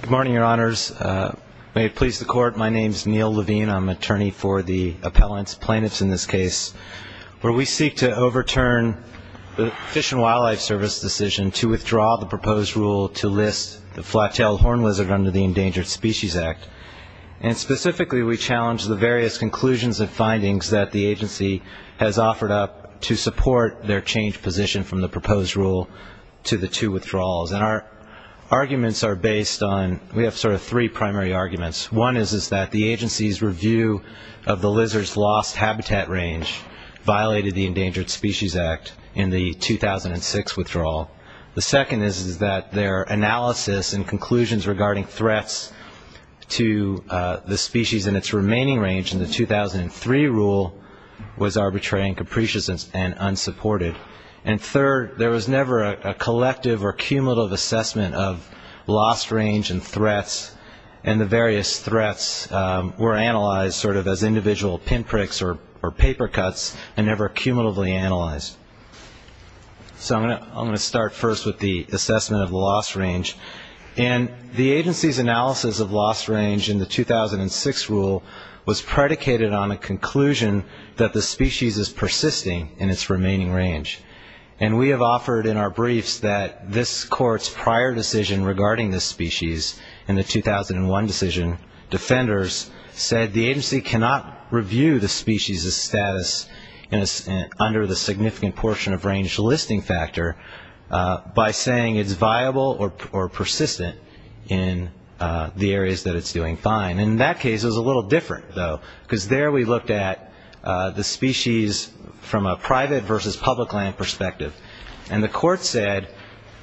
Good morning, Your Honors. May it please the Court, my name is Neil Levine. I'm attorney for the appellants, plaintiffs in this case, where we seek to overturn the Fish and Wildlife Service decision to withdraw the proposed rule to list the flat-tailed horned lizard under the Endangered Species Act. And specifically, we challenge the various conclusions and findings that the agency has offered up to support their changed position from the proposed rule to the two withdrawals. And our arguments are based on, we have sort of three primary arguments. One is that the agency's review of the lizard's lost habitat range violated the Endangered Species Act in the 2006 withdrawal. The second is that their analysis and conclusions regarding threats to the species in its remaining range in the 2003 rule was arbitrary and capricious and unsupported. And third, there was never a collective or cumulative assessment of lost range and threats, and the various threats were analyzed sort of as individual pinpricks or paper cuts and never cumulatively analyzed. So I'm going to start first with the assessment of the lost range. And the agency's analysis of lost range in the 2006 rule was predicated on a conclusion that the species is persisting in its remaining range. And we have offered in our briefs that this Court's prior decision regarding this species in the 2001 decision, defenders, said the agency cannot review the species' status under the significant portion of range listing factor by saying it's viable or persistent in the areas that it's doing different, though. Because there we looked at the species from a private versus public land perspective. And the Court said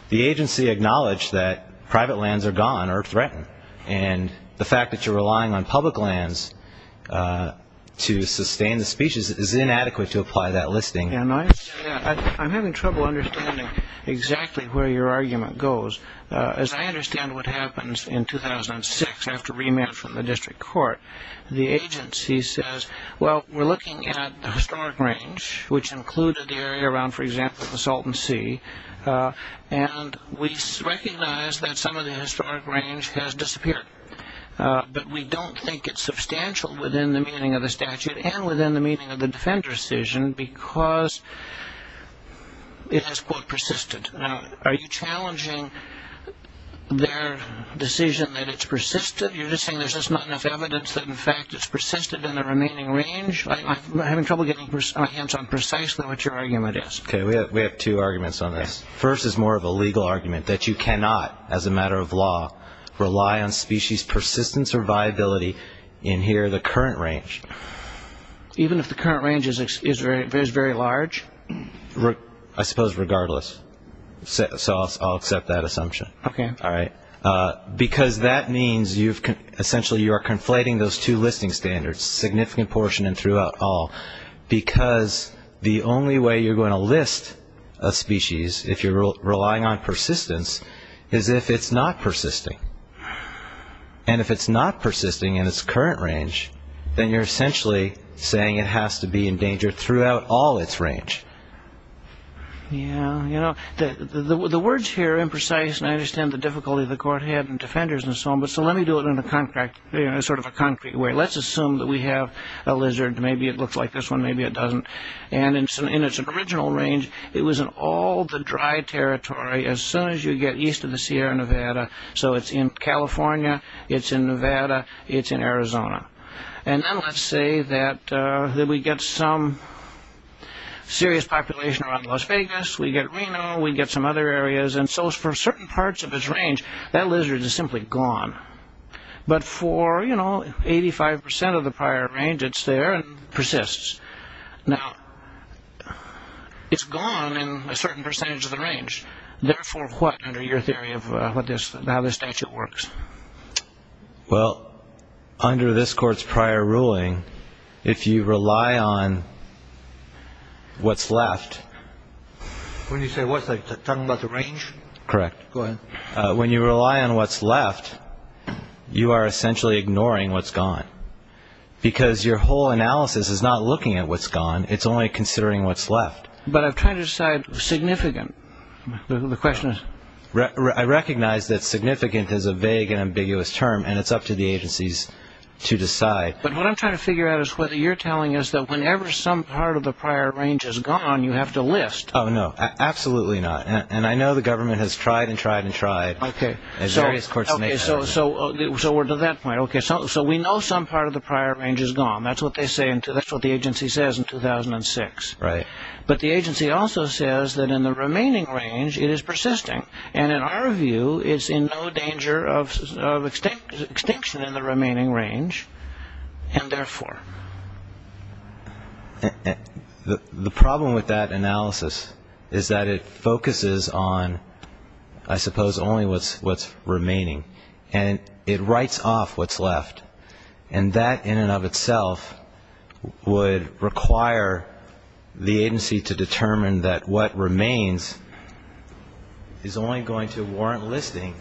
the agency acknowledged that private lands are gone or threatened. And the fact that you're relying on public lands to sustain the species is inadequate to apply that listing. And I'm having trouble understanding exactly where your argument goes. As I understand what happens in 2006 after remand from the District Court, the agency says, well, we're looking at the historic range, which included the area around, for example, the Salton Sea, and we recognize that some of the historic range has disappeared. But we don't think it's substantial within the meaning of the statute and within the meaning of the defender's decision because it has, quote, persisted. Are you challenging their decision that it's persisted? You're just saying there's just not enough evidence that, in fact, it's persisted in the remaining range? I'm having trouble getting my hands on precisely what your argument is. Okay. We have two arguments on this. First is more of a legal argument, that you cannot, as a matter of law, rely on species' persistence or viability in here, the current range. Even if the current range is very large? I suppose regardless. So I'll accept that assumption. Okay. All right. Because that means, essentially, you are conflating those two listing standards, significant portion and throughout all, because the only way you're going to list a species, if you're relying on persistence, is if it's not persisting. And if it's not persisting in its current range, then you're essentially saying it has to be endangered throughout all its range. Yeah. You know, the words here are imprecise, and I understand the difficulty the court had in defenders and so on, but so let me do it in a sort of a concrete way. Let's assume that we have a lizard. Maybe it looks like this one. Maybe it doesn't. And in its original range, it was in all the dry territory as soon as you get east of the Sierra Nevada. So it's in California. It's in Nevada. It's in Arizona. And then let's say that we get some serious population around Las Vegas. We get Reno. We get some other areas. And so for certain parts of its range, that lizard is simply gone. But for, you know, 85% of the prior range, it's there and persists. Now, it's gone in a certain percentage of the range. Therefore, what, under your theory of how this statute works? Well, under this court's prior ruling, if you rely on what's left... When you say what's left, you're talking about the range? Correct. Go ahead. When you rely on what's left, you are essentially ignoring what's gone. Because your whole analysis is not looking at what's gone. It's only considering what's left. But I've tried to decide significant. The question is... I recognize that significant is a vague and ambiguous term. And it's up to the agencies to decide. But what I'm trying to figure out is whether you're telling us that whenever some part of the prior range is gone, you have to list. Oh, no. Absolutely not. And I know the government has tried and tried and tried. Okay. As various courts and agencies... So we're to that point. Okay. So we know some part of the prior range is gone. That's what they say. That's what the agency says in 2006. Right. But the agency also says that in the remaining range, it is persisting. And in our view, it's in no danger of extinction in the remaining range. And therefore... The problem with that analysis is that it focuses on, I suppose, only what's remaining. And it writes off what's left. And that in and of itself would require the agency to determine that what remains is only going to warrant listing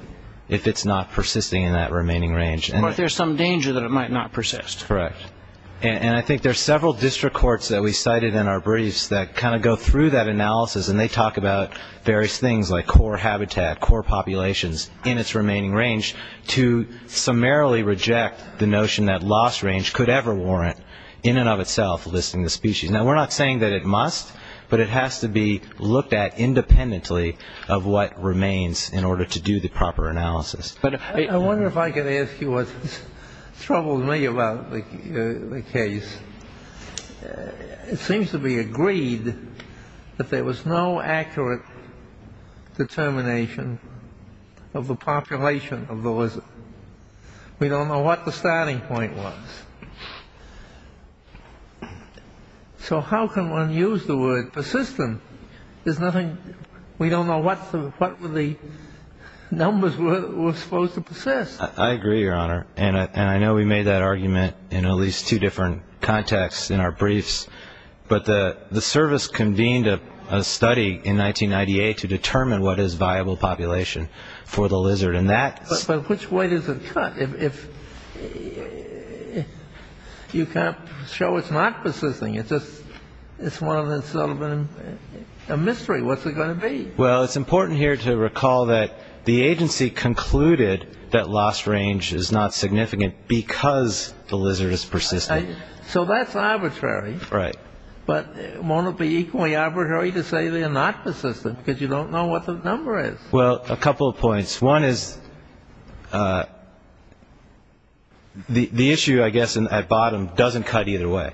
if it's not persisting in that remaining range. But there's some danger that it might not persist. Correct. And I think there's several district courts that we cited in our briefs that kind of talk about various things like core habitat, core populations in its remaining range to summarily reject the notion that lost range could ever warrant in and of itself listing the species. Now, we're not saying that it must, but it has to be looked at independently of what remains in order to do the proper analysis. I wonder if I could ask you what's troubled me about the case. It seems to be agreed that there was no accurate determination of the population of the lizard. We don't know what the starting point was. So how can one use the word persistent? There's nothing we don't know what the numbers were supposed to persist. I agree, Your Honor. And I know we made that argument in at least two different contexts in our study in 1998 to determine what is viable population for the lizard. And that's But which way does it cut? You can't show it's not persisting. It's one of those sort of a mystery. What's it going to be? Well, it's important here to recall that the agency concluded that lost range is not significant because the lizard is persistent. So that's arbitrary. But won't it be equally arbitrary to say they're not persistent because you don't know what the number is? Well, a couple of points. One is the issue, I guess, at bottom doesn't cut either way,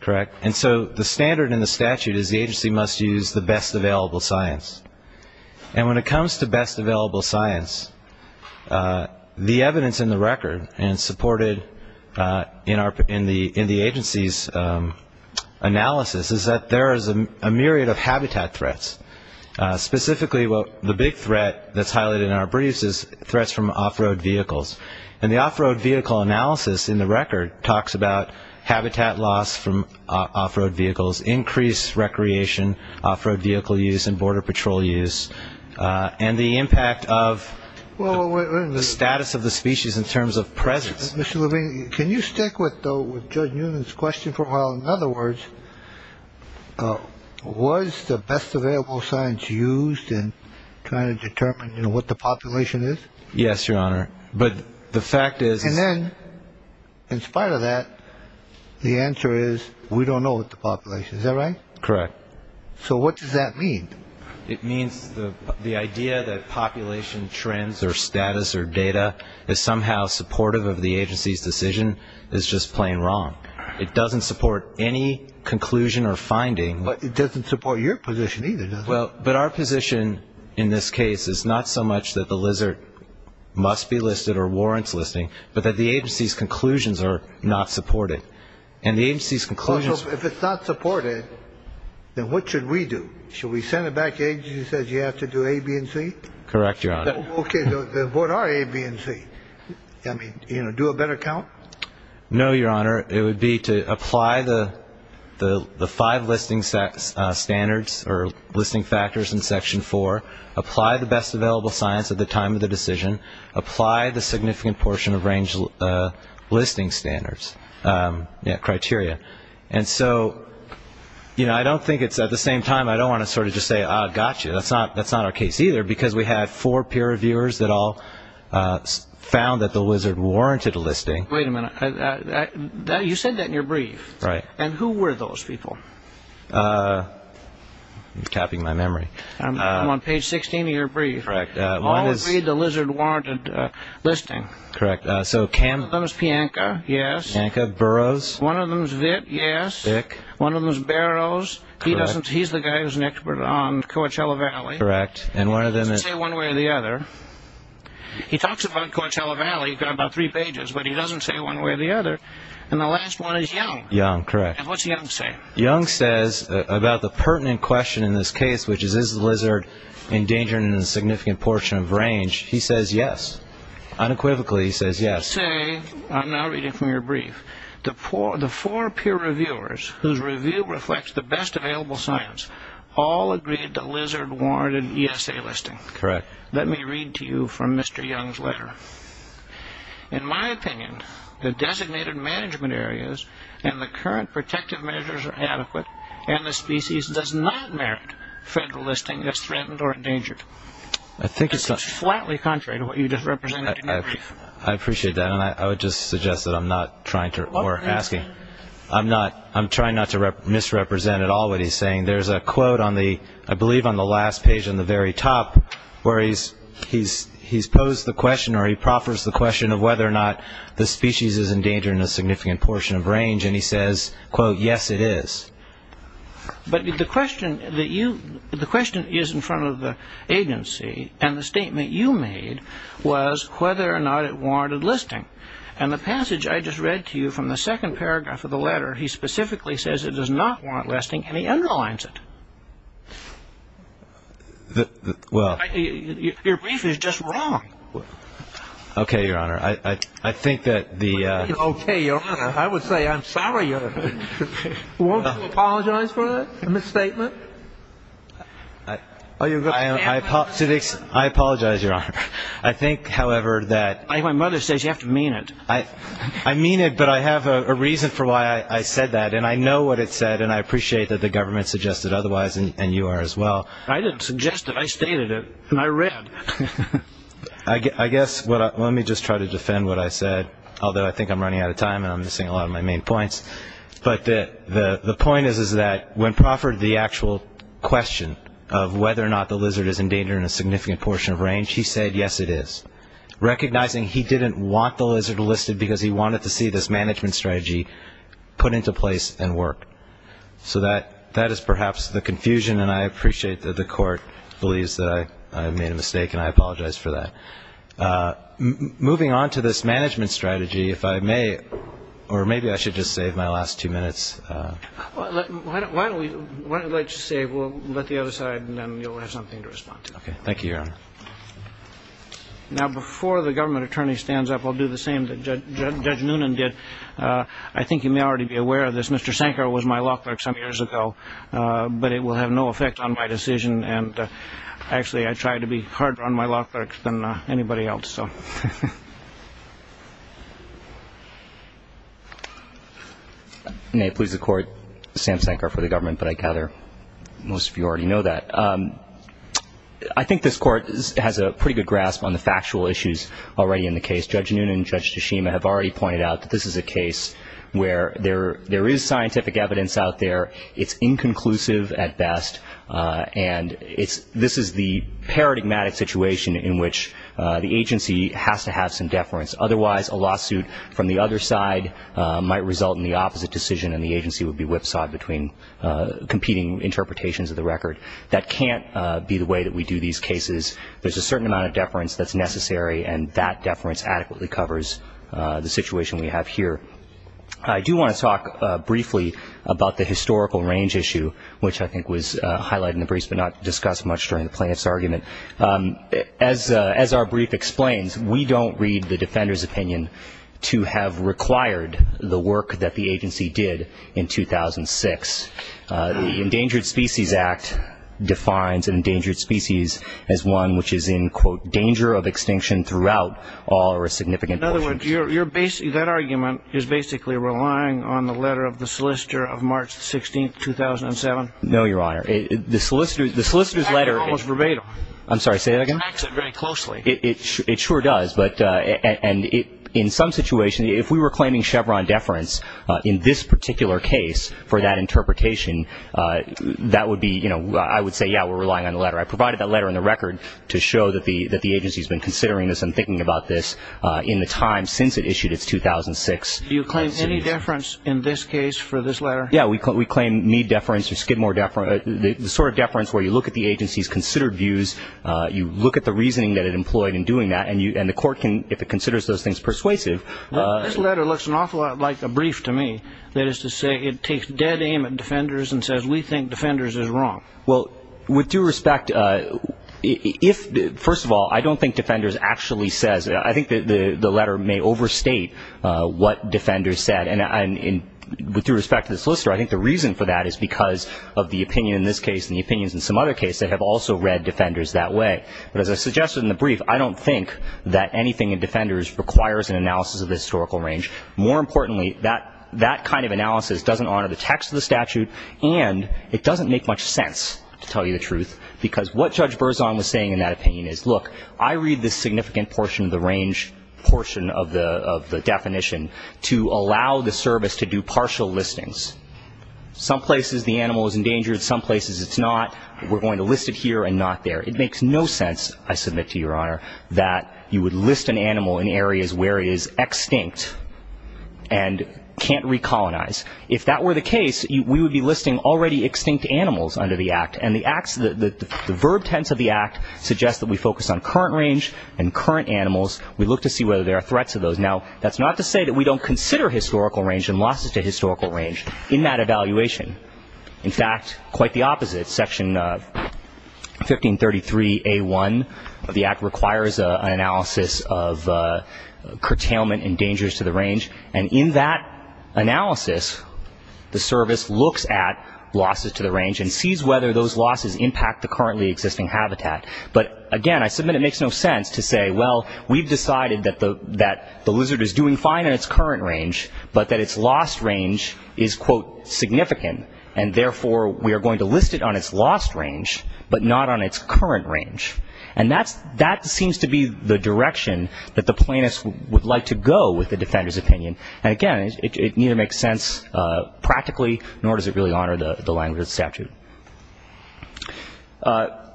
correct? And so the standard in the statute is the agency must use the best available science. And when it comes to best available science, the evidence in the record and supported in the statute is that the agency must use the best available science. The other issue in the agency's analysis is that there is a myriad of habitat threats, specifically the big threat that's highlighted in our briefs is threats from off-road vehicles. And the off-road vehicle analysis in the record talks about habitat loss from off-road vehicles, increased recreation, off-road vehicle use and border patrol use, and the impact of the status of the species in terms of presence. Mr. Levine, can you stick with Judge Newman's question for a while? In other words, was the best available science used in trying to determine what the population is? Yes, Your Honor. But the fact is... And then, in spite of that, the answer is we don't know what the population is. Is that right? Correct. So what does that mean? It means the idea that population trends or status or data is somehow supportive of the agency's decision is just plain wrong. It doesn't support any conclusion or finding. But it doesn't support your position either, does it? Well, but our position in this case is not so much that the lizard must be listed or warrants listing, but that the agency's conclusions are not supported. And the agency's conclusions... Then what should we do? Should we send it back to the agency that says you have to do A, B, and C? Correct, Your Honor. Okay. What are A, B, and C? I mean, you know, do a better count? No, Your Honor. It would be to apply the five listing standards or listing factors in Section 4, apply the best available science at the time of the decision, apply the significant portion of range listing standards, yeah, and I don't think it's at the same time. I don't want to sort of just say, ah, gotcha. That's not our case either, because we had four peer reviewers that all found that the lizard warranted a listing. Wait a minute. You said that in your brief. Right. And who were those people? I'm tapping my memory. I'm on page 16 of your brief. Correct. All agreed the lizard warranted a listing. Correct. So one of them is Pianca. Yes. Pianca. Burroughs. One of them is Witt. Yes. Bick. One of them is Barrows. He's the guy who's an expert on Coachella Valley. Correct. He talks about Coachella Valley about three pages, but he doesn't say one way or the other. And the last one is Young. Young. Correct. And what's Young say? Young says about the pertinent question in this case, which is, is the lizard endangering a significant portion of range? He says yes. Unequivocally, he says yes. Let me say, I'm now reading from your brief, the four peer reviewers whose review reflects the best available science all agreed the lizard warranted an ESA listing. Correct. Let me read to you from Mr. Young's letter. In my opinion, the designated management areas and the current protective measures are adequate, and the species does not merit federal listing as threatened or endangered. I think it's just flatly contrary to what you just represented in your brief. I appreciate that, and I would just suggest that I'm not trying to, or asking. I'm trying not to misrepresent at all what he's saying. There's a quote on the, I believe on the last page on the very top, where he's posed the question, or he proffers the question of whether or not the species is endangering a significant portion of range. And he says, quote, yes, it is. But the question that you, the question is in front of the agency, and the statement you made was whether or not it warranted listing. And the passage I just read to you from the second paragraph of the letter, he specifically says it does not warrant listing, and he underlines it. Well. Your brief is just wrong. Okay, Your Honor. I think that the. Okay, Your Honor. I would say I'm sorry. Won't you apologize for that misstatement? I apologize, Your Honor. I think, however, that. My mother says you have to mean it. I mean it, but I have a reason for why I said that, and I know what it said, and I appreciate that the government suggested otherwise, and you are as well. I didn't suggest it. I stated it, and I read. I guess let me just try to defend what I said, although I think I'm running out of time and I'm missing a lot of my main points. But the point is that when Profford, the actual question of whether or not the lizard is endangering a significant portion of range, he said, yes, it is. Recognizing he didn't want the lizard listed because he wanted to see this management strategy put into place and work. So that is perhaps the confusion, and I appreciate that the court believes that I made a mistake, and I apologize for that. Moving on to this management strategy, if I may, or maybe I should just save my last two minutes. Why don't we just say we'll let the other side, and then you'll have something to respond to. Okay. Thank you, Your Honor. Now, before the government attorney stands up, I'll do the same that Judge Noonan did. I think you may already be aware of this. Mr. Sankar was my law clerk some years ago, but it will have no effect on my decision, and actually I try to be harder on my law clerks than anybody else. May it please the Court, Sam Sankar for the government, but I gather most of you already know that. I think this Court has a pretty good grasp on the factual issues already in the case. Judge Noonan and Judge Tashima have already pointed out that this is a case where there is scientific evidence out there. It's inconclusive at best, and this is the paradigmatic situation in which the agency has to have some deference. Otherwise, a lawsuit from the other side might result in the opposite decision, and the agency would be whipsawed between competing interpretations of the record. That can't be the way that we do these cases. There's a certain amount of deference that's necessary, and that deference adequately covers the situation we have here. I do want to talk briefly about the historical range issue, which I think was highlighted in the briefs but not discussed much during the plaintiff's argument. As our brief explains, we don't read the defender's opinion to have required the work that the agency did in 2006. The Endangered Species Act defines an endangered species as one which is in, quote, danger of extinction throughout all or a significant portion. In other words, that argument is basically relying on the letter of the solicitor of March 16th, 2007? No, Your Honor. The solicitor's letter almost verbatim. I'm sorry, say that again. Acts it very closely. It sure does. And in some situations, if we were claiming Chevron deference in this particular case for that interpretation, that would be, you know, I would say, yeah, we're relying on the letter. I provided that letter in the record to show that the agency has been considering this and thinking about this in the time since it issued its 2006. Do you claim any deference in this case for this letter? Yeah, we claim need deference or skid more deference, the sort of deference where you look at the agency's considered views, you look at the reasoning that it employed in doing that, and the court, if it considers those things persuasive. This letter looks an awful lot like a brief to me. That is to say it takes dead aim at defenders and says we think defenders is wrong. Well, with due respect, first of all, I don't think defenders actually says. I think the letter may overstate what defenders said. And with due respect to the solicitor, I think the reason for that is because of the opinion in this case and the opinions in some other cases that have also read defenders that way. But as I suggested in the brief, I don't think that anything in defenders requires an analysis of the historical range. More importantly, that kind of analysis doesn't honor the text of the statute, and it doesn't make much sense, to tell you the truth, because what Judge Berzon was saying in that opinion is, look, I read this significant portion of the range, portion of the definition, to allow the service to do partial listings. Some places the animal is endangered. Some places it's not. We're going to list it here and not there. It makes no sense, I submit to Your Honor, that you would list an animal in areas where it is extinct and can't recolonize. If that were the case, we would be listing already extinct animals under the Act, and the verb tense of the Act suggests that we focus on current range and current animals. We look to see whether there are threats of those. Now, that's not to say that we don't consider historical range and losses to historical range in that evaluation. In fact, quite the opposite. Section 1533A1 of the Act requires an analysis of curtailment and dangers to the range, and in that analysis, the service looks at losses to the range and sees whether those losses impact the currently existing habitat. But, again, I submit it makes no sense to say, well, we've decided that the lizard is doing fine in its current range, but that its lost range is, quote, significant, and therefore we are going to list it on its lost range but not on its current range. And that seems to be the direction that the plaintiff would like to go with the defender's opinion. And, again, it neither makes sense practically, nor does it really honor the language of the statute.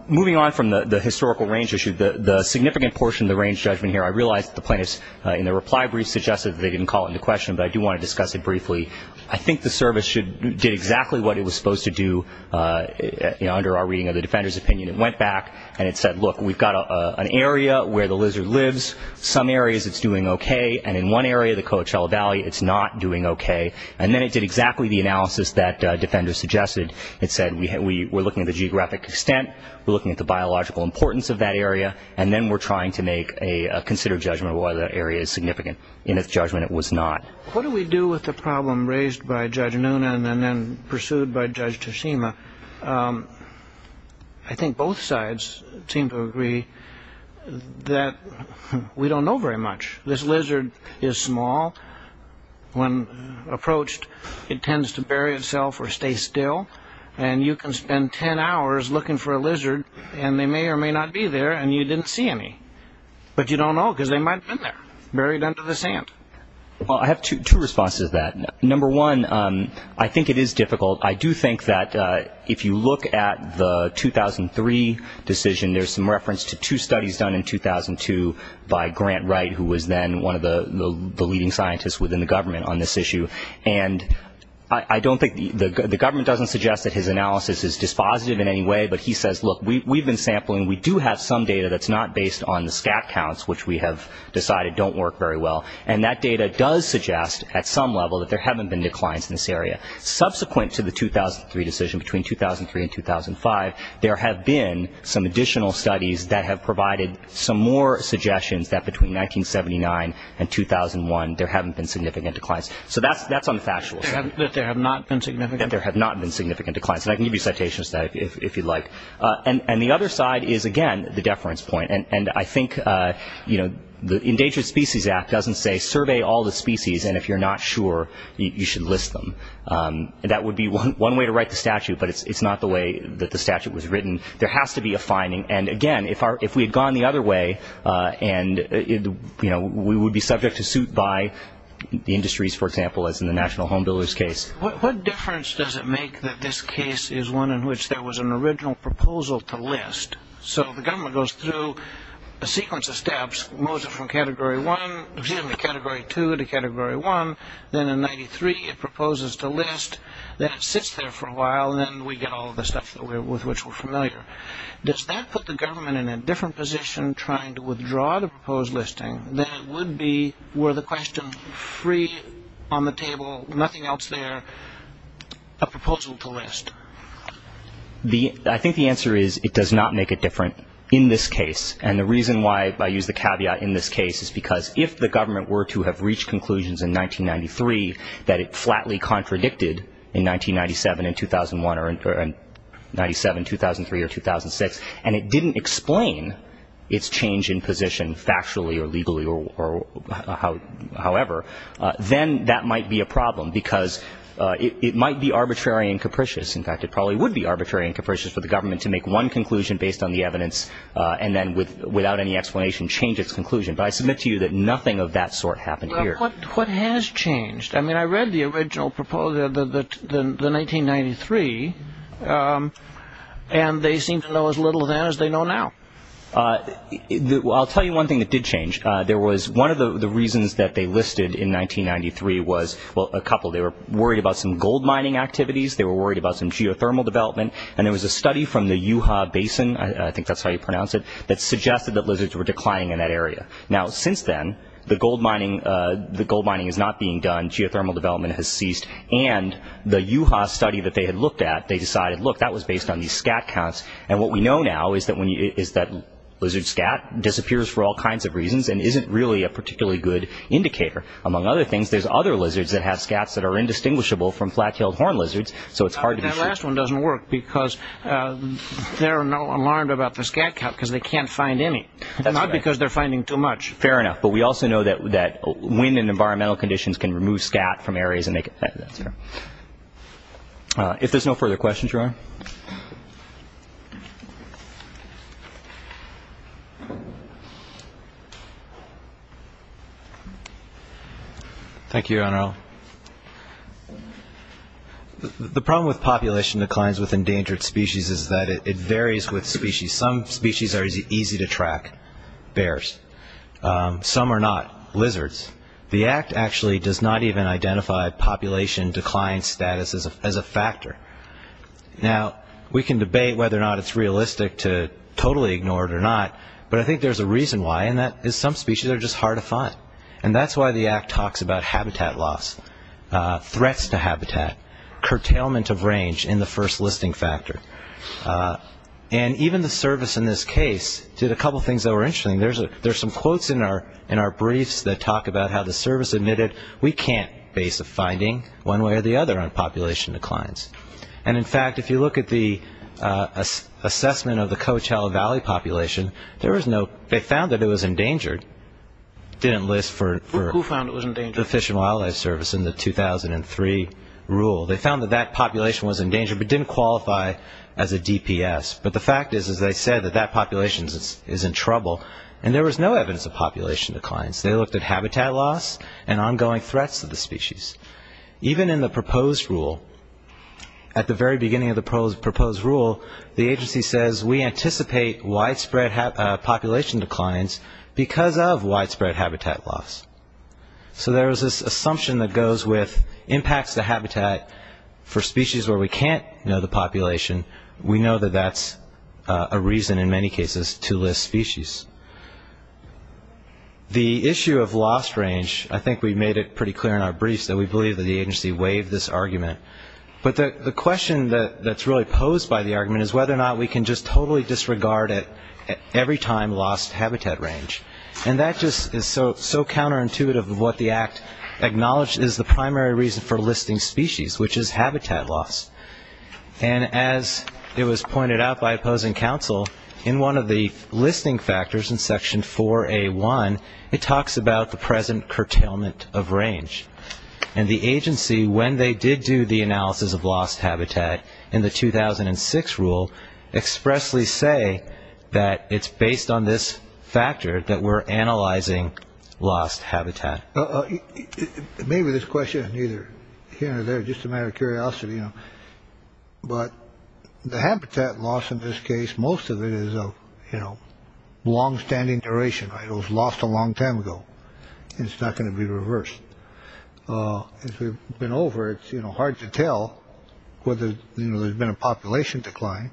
Moving on from the historical range issue, the significant portion of the range judgment here, I realize that the plaintiffs in their reply brief suggested that they didn't call it into question, but I do want to discuss it briefly. I think the service did exactly what it was supposed to do under our reading of the defender's opinion. It went back and it said, look, we've got an area where the lizard lives. Some areas it's doing okay, and in one area, the Coachella Valley, it's not doing okay. And then it did exactly the analysis that defenders suggested. It said we're looking at the geographic extent, we're looking at the biological importance of that area, and then we're trying to make a considered judgment of whether that area is significant. In its judgment, it was not. What do we do with the problem raised by Judge Nuna and then pursued by Judge Toshima? I think both sides seem to agree that we don't know very much. This lizard is small. When approached, it tends to bury itself or stay still. And you can spend ten hours looking for a lizard, and they may or may not be there, and you didn't see any. But you don't know because they might have been there, buried under the sand. Well, I have two responses to that. Number one, I think it is difficult. I do think that if you look at the 2003 decision, there's some reference to two studies done in 2002 by Grant Wright, who was then one of the leading scientists within the government on this issue. And I don't think the government doesn't suggest that his analysis is dispositive in any way, but he says, look, we've been sampling. We do have some data that's not based on the stat counts, which we have decided don't work very well. And that data does suggest at some level that there haven't been declines in this area. Subsequent to the 2003 decision, between 2003 and 2005, there have been some additional studies that have provided some more suggestions that between 1979 and 2001 there haven't been significant declines. So that's on the factual side. But there have not been significant? There have not been significant declines. And I can give you citations to that if you'd like. And the other side is, again, the deference point. And I think the Endangered Species Act doesn't say survey all the species, and if you're not sure, you should list them. That would be one way to write the statute, but it's not the way that the statute was written. There has to be a finding. And, again, if we had gone the other way and, you know, we would be subject to suit by the industries, for example, as in the National Home Builders case. What difference does it make that this case is one in which there was an original proposal to list? So the government goes through a sequence of steps, moves it from Category 2 to Category 1, then in 93 it proposes to list, then it sits there for a while, and then we get all the stuff with which we're familiar. Does that put the government in a different position trying to withdraw the proposed listing than it would be were the question free on the table, nothing else there, a proposal to list? I think the answer is it does not make it different in this case. And the reason why I use the caveat in this case is because if the government were to have reached conclusions in 1993 that it flatly contradicted in 1997 and 2001 or in 97, 2003, or 2006, and it didn't explain its change in position factually or legally or however, then that might be a problem because it might be arbitrary and capricious. In fact, it probably would be arbitrary and capricious for the government to make one conclusion based on the evidence and then without any explanation change its conclusion. But I submit to you that nothing of that sort happened here. What has changed? I mean, I read the original proposal, the 1993, and they seem to know as little then as they know now. I'll tell you one thing that did change. One of the reasons that they listed in 1993 was, well, a couple. They were worried about some gold mining activities, they were worried about some geothermal development, and there was a study from the Yuhua Basin, I think that's how you pronounce it, that suggested that lizards were declining in that area. Now, since then, the gold mining is not being done, geothermal development has ceased, and the Yuhua study that they had looked at, they decided, look, that was based on these scat counts, and what we know now is that lizard scat disappears for all kinds of reasons and isn't really a particularly good indicator. Among other things, there's other lizards that have scats that are indistinguishable from flat-tailed horn lizards, so it's hard to be sure. But that last one doesn't work because they're not alarmed about the scat count because they can't find any. Not because they're finding too much. Fair enough, but we also know that wind and environmental conditions can remove scat from areas. If there's no further questions, your Honor. Thank you, Your Honor. The problem with population declines with endangered species is that it varies with species. Some species are easy to track, bears. Some are not, lizards. The Act actually does not even identify population decline status as a factor. Now, we can debate whether or not it's realistic to totally ignore it or not, but I think there's a reason why, and that is some species are just hard to find, and that's why the Act talks about habitat loss, threats to habitat, curtailment of range in the first listing factor. And even the service in this case did a couple things that were interesting. There's some quotes in our briefs that talk about how the service admitted, we can't base a finding one way or the other on population declines. And, in fact, if you look at the assessment of the Coachella Valley population, they found that it was endangered. It didn't list for the Fish and Wildlife Service in the 2003 rule. They found that that population was endangered but didn't qualify as a DPS. But the fact is, as I said, that that population is in trouble, and there was no evidence of population declines. They looked at habitat loss and ongoing threats to the species. Even in the proposed rule, at the very beginning of the proposed rule, the agency says we anticipate widespread population declines because of widespread habitat loss. So there's this assumption that goes with impacts to habitat for species where we can't know the population. We know that that's a reason in many cases to list species. The issue of lost range, I think we made it pretty clear in our briefs that we believe that the agency waived this argument. But the question that's really posed by the argument is whether or not we can just totally disregard it every time lost habitat range. And that just is so counterintuitive of what the Act acknowledges is the primary reason for listing species, which is habitat loss. And as it was pointed out by opposing counsel, in one of the listing factors in Section 4A1, it talks about the present curtailment of range. And the agency, when they did do the analysis of lost habitat in the 2006 rule, expressly say that it's based on this factor that we're analyzing lost habitat. Maybe this question is neither here nor there. Just a matter of curiosity. But the habitat loss in this case, most of it is a longstanding duration. It was lost a long time ago. It's not going to be reversed. It's been over. It's hard to tell whether there's been a population decline.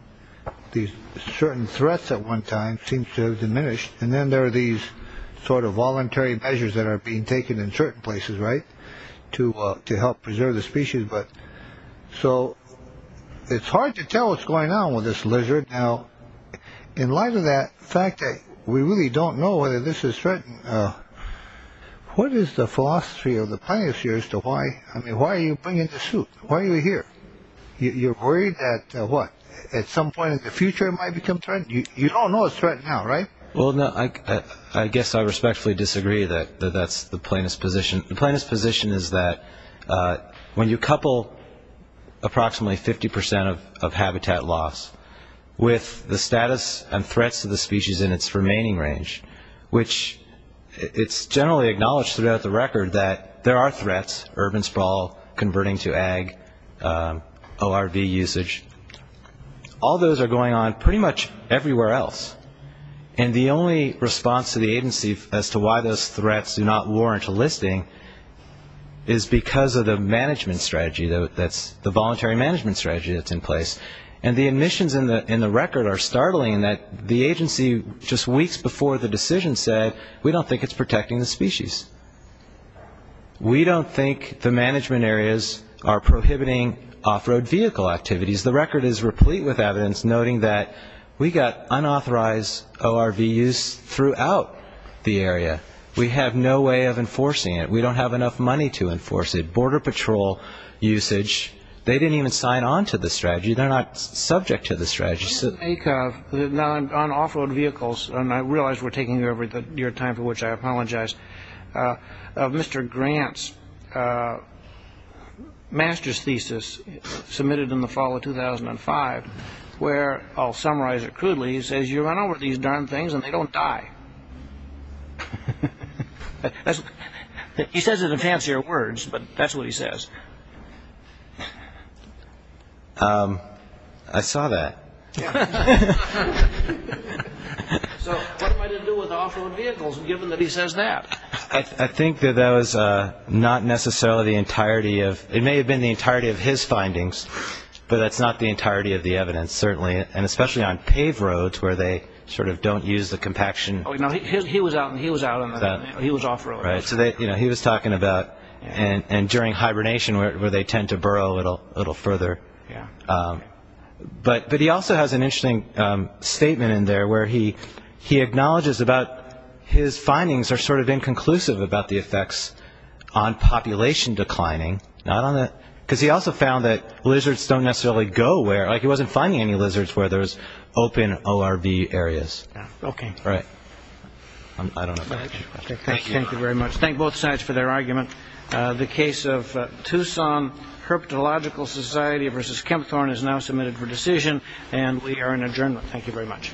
These certain threats at one time seems to have diminished. And then there are these sort of voluntary measures that are being taken in certain places. Right. To to help preserve the species. But so it's hard to tell what's going on with this lizard. Now, in light of that fact, we really don't know whether this is threatened. What is the philosophy of the plaintiffs here as to why? I mean, why are you bringing the suit? Why are you here? You're worried that what, at some point in the future it might become threatened? You all know it's threatened now, right? Well, I guess I respectfully disagree that that's the plaintiff's position. The plaintiff's position is that when you couple approximately 50 percent of habitat loss with the status and threats to the species in its remaining range, which it's generally acknowledged throughout the record that there are threats, urban sprawl, converting to ag, ORV usage, all those are going on pretty much everywhere else. And the only response to the agency as to why those threats do not warrant a listing is because of the management strategy. That's the voluntary management strategy that's in place. And the admissions in the record are startling in that the agency just weeks before the decision said, we don't think it's protecting the species. We don't think the management areas are prohibiting off-road vehicle activities. The record is replete with evidence noting that we got unauthorized ORV use throughout the area. We have no way of enforcing it. We don't have enough money to enforce it. Border patrol usage, they didn't even sign on to the strategy. They're not subject to the strategy. On off-road vehicles, and I realize we're taking over at the near time for which I apologize, Mr. Grant's master's thesis submitted in the fall of 2005, where I'll summarize it crudely, he says you run over these darn things and they don't die. He says it in fancier words, but that's what he says. I saw that. So what am I to do with off-road vehicles given that he says that? I think that that was not necessarily the entirety of, it may have been the entirety of his findings, but that's not the entirety of the evidence, certainly, and especially on paved roads where they sort of don't use the compaction. He was out on that. He was off-road. So he was talking about, and during hibernation where they tend to burrow a little further. But he also has an interesting statement in there where he acknowledges about his findings are sort of inconclusive about the effects on population declining, because he also found that lizards don't necessarily go where, like he wasn't finding any lizards where there's open ORV areas. Okay. Right. I don't know. Thank you very much. Thank both sides for their argument. The case of Tucson Herpetological Society versus Kempthorne is now submitted for decision, and we are in adjournment. Thank you very much.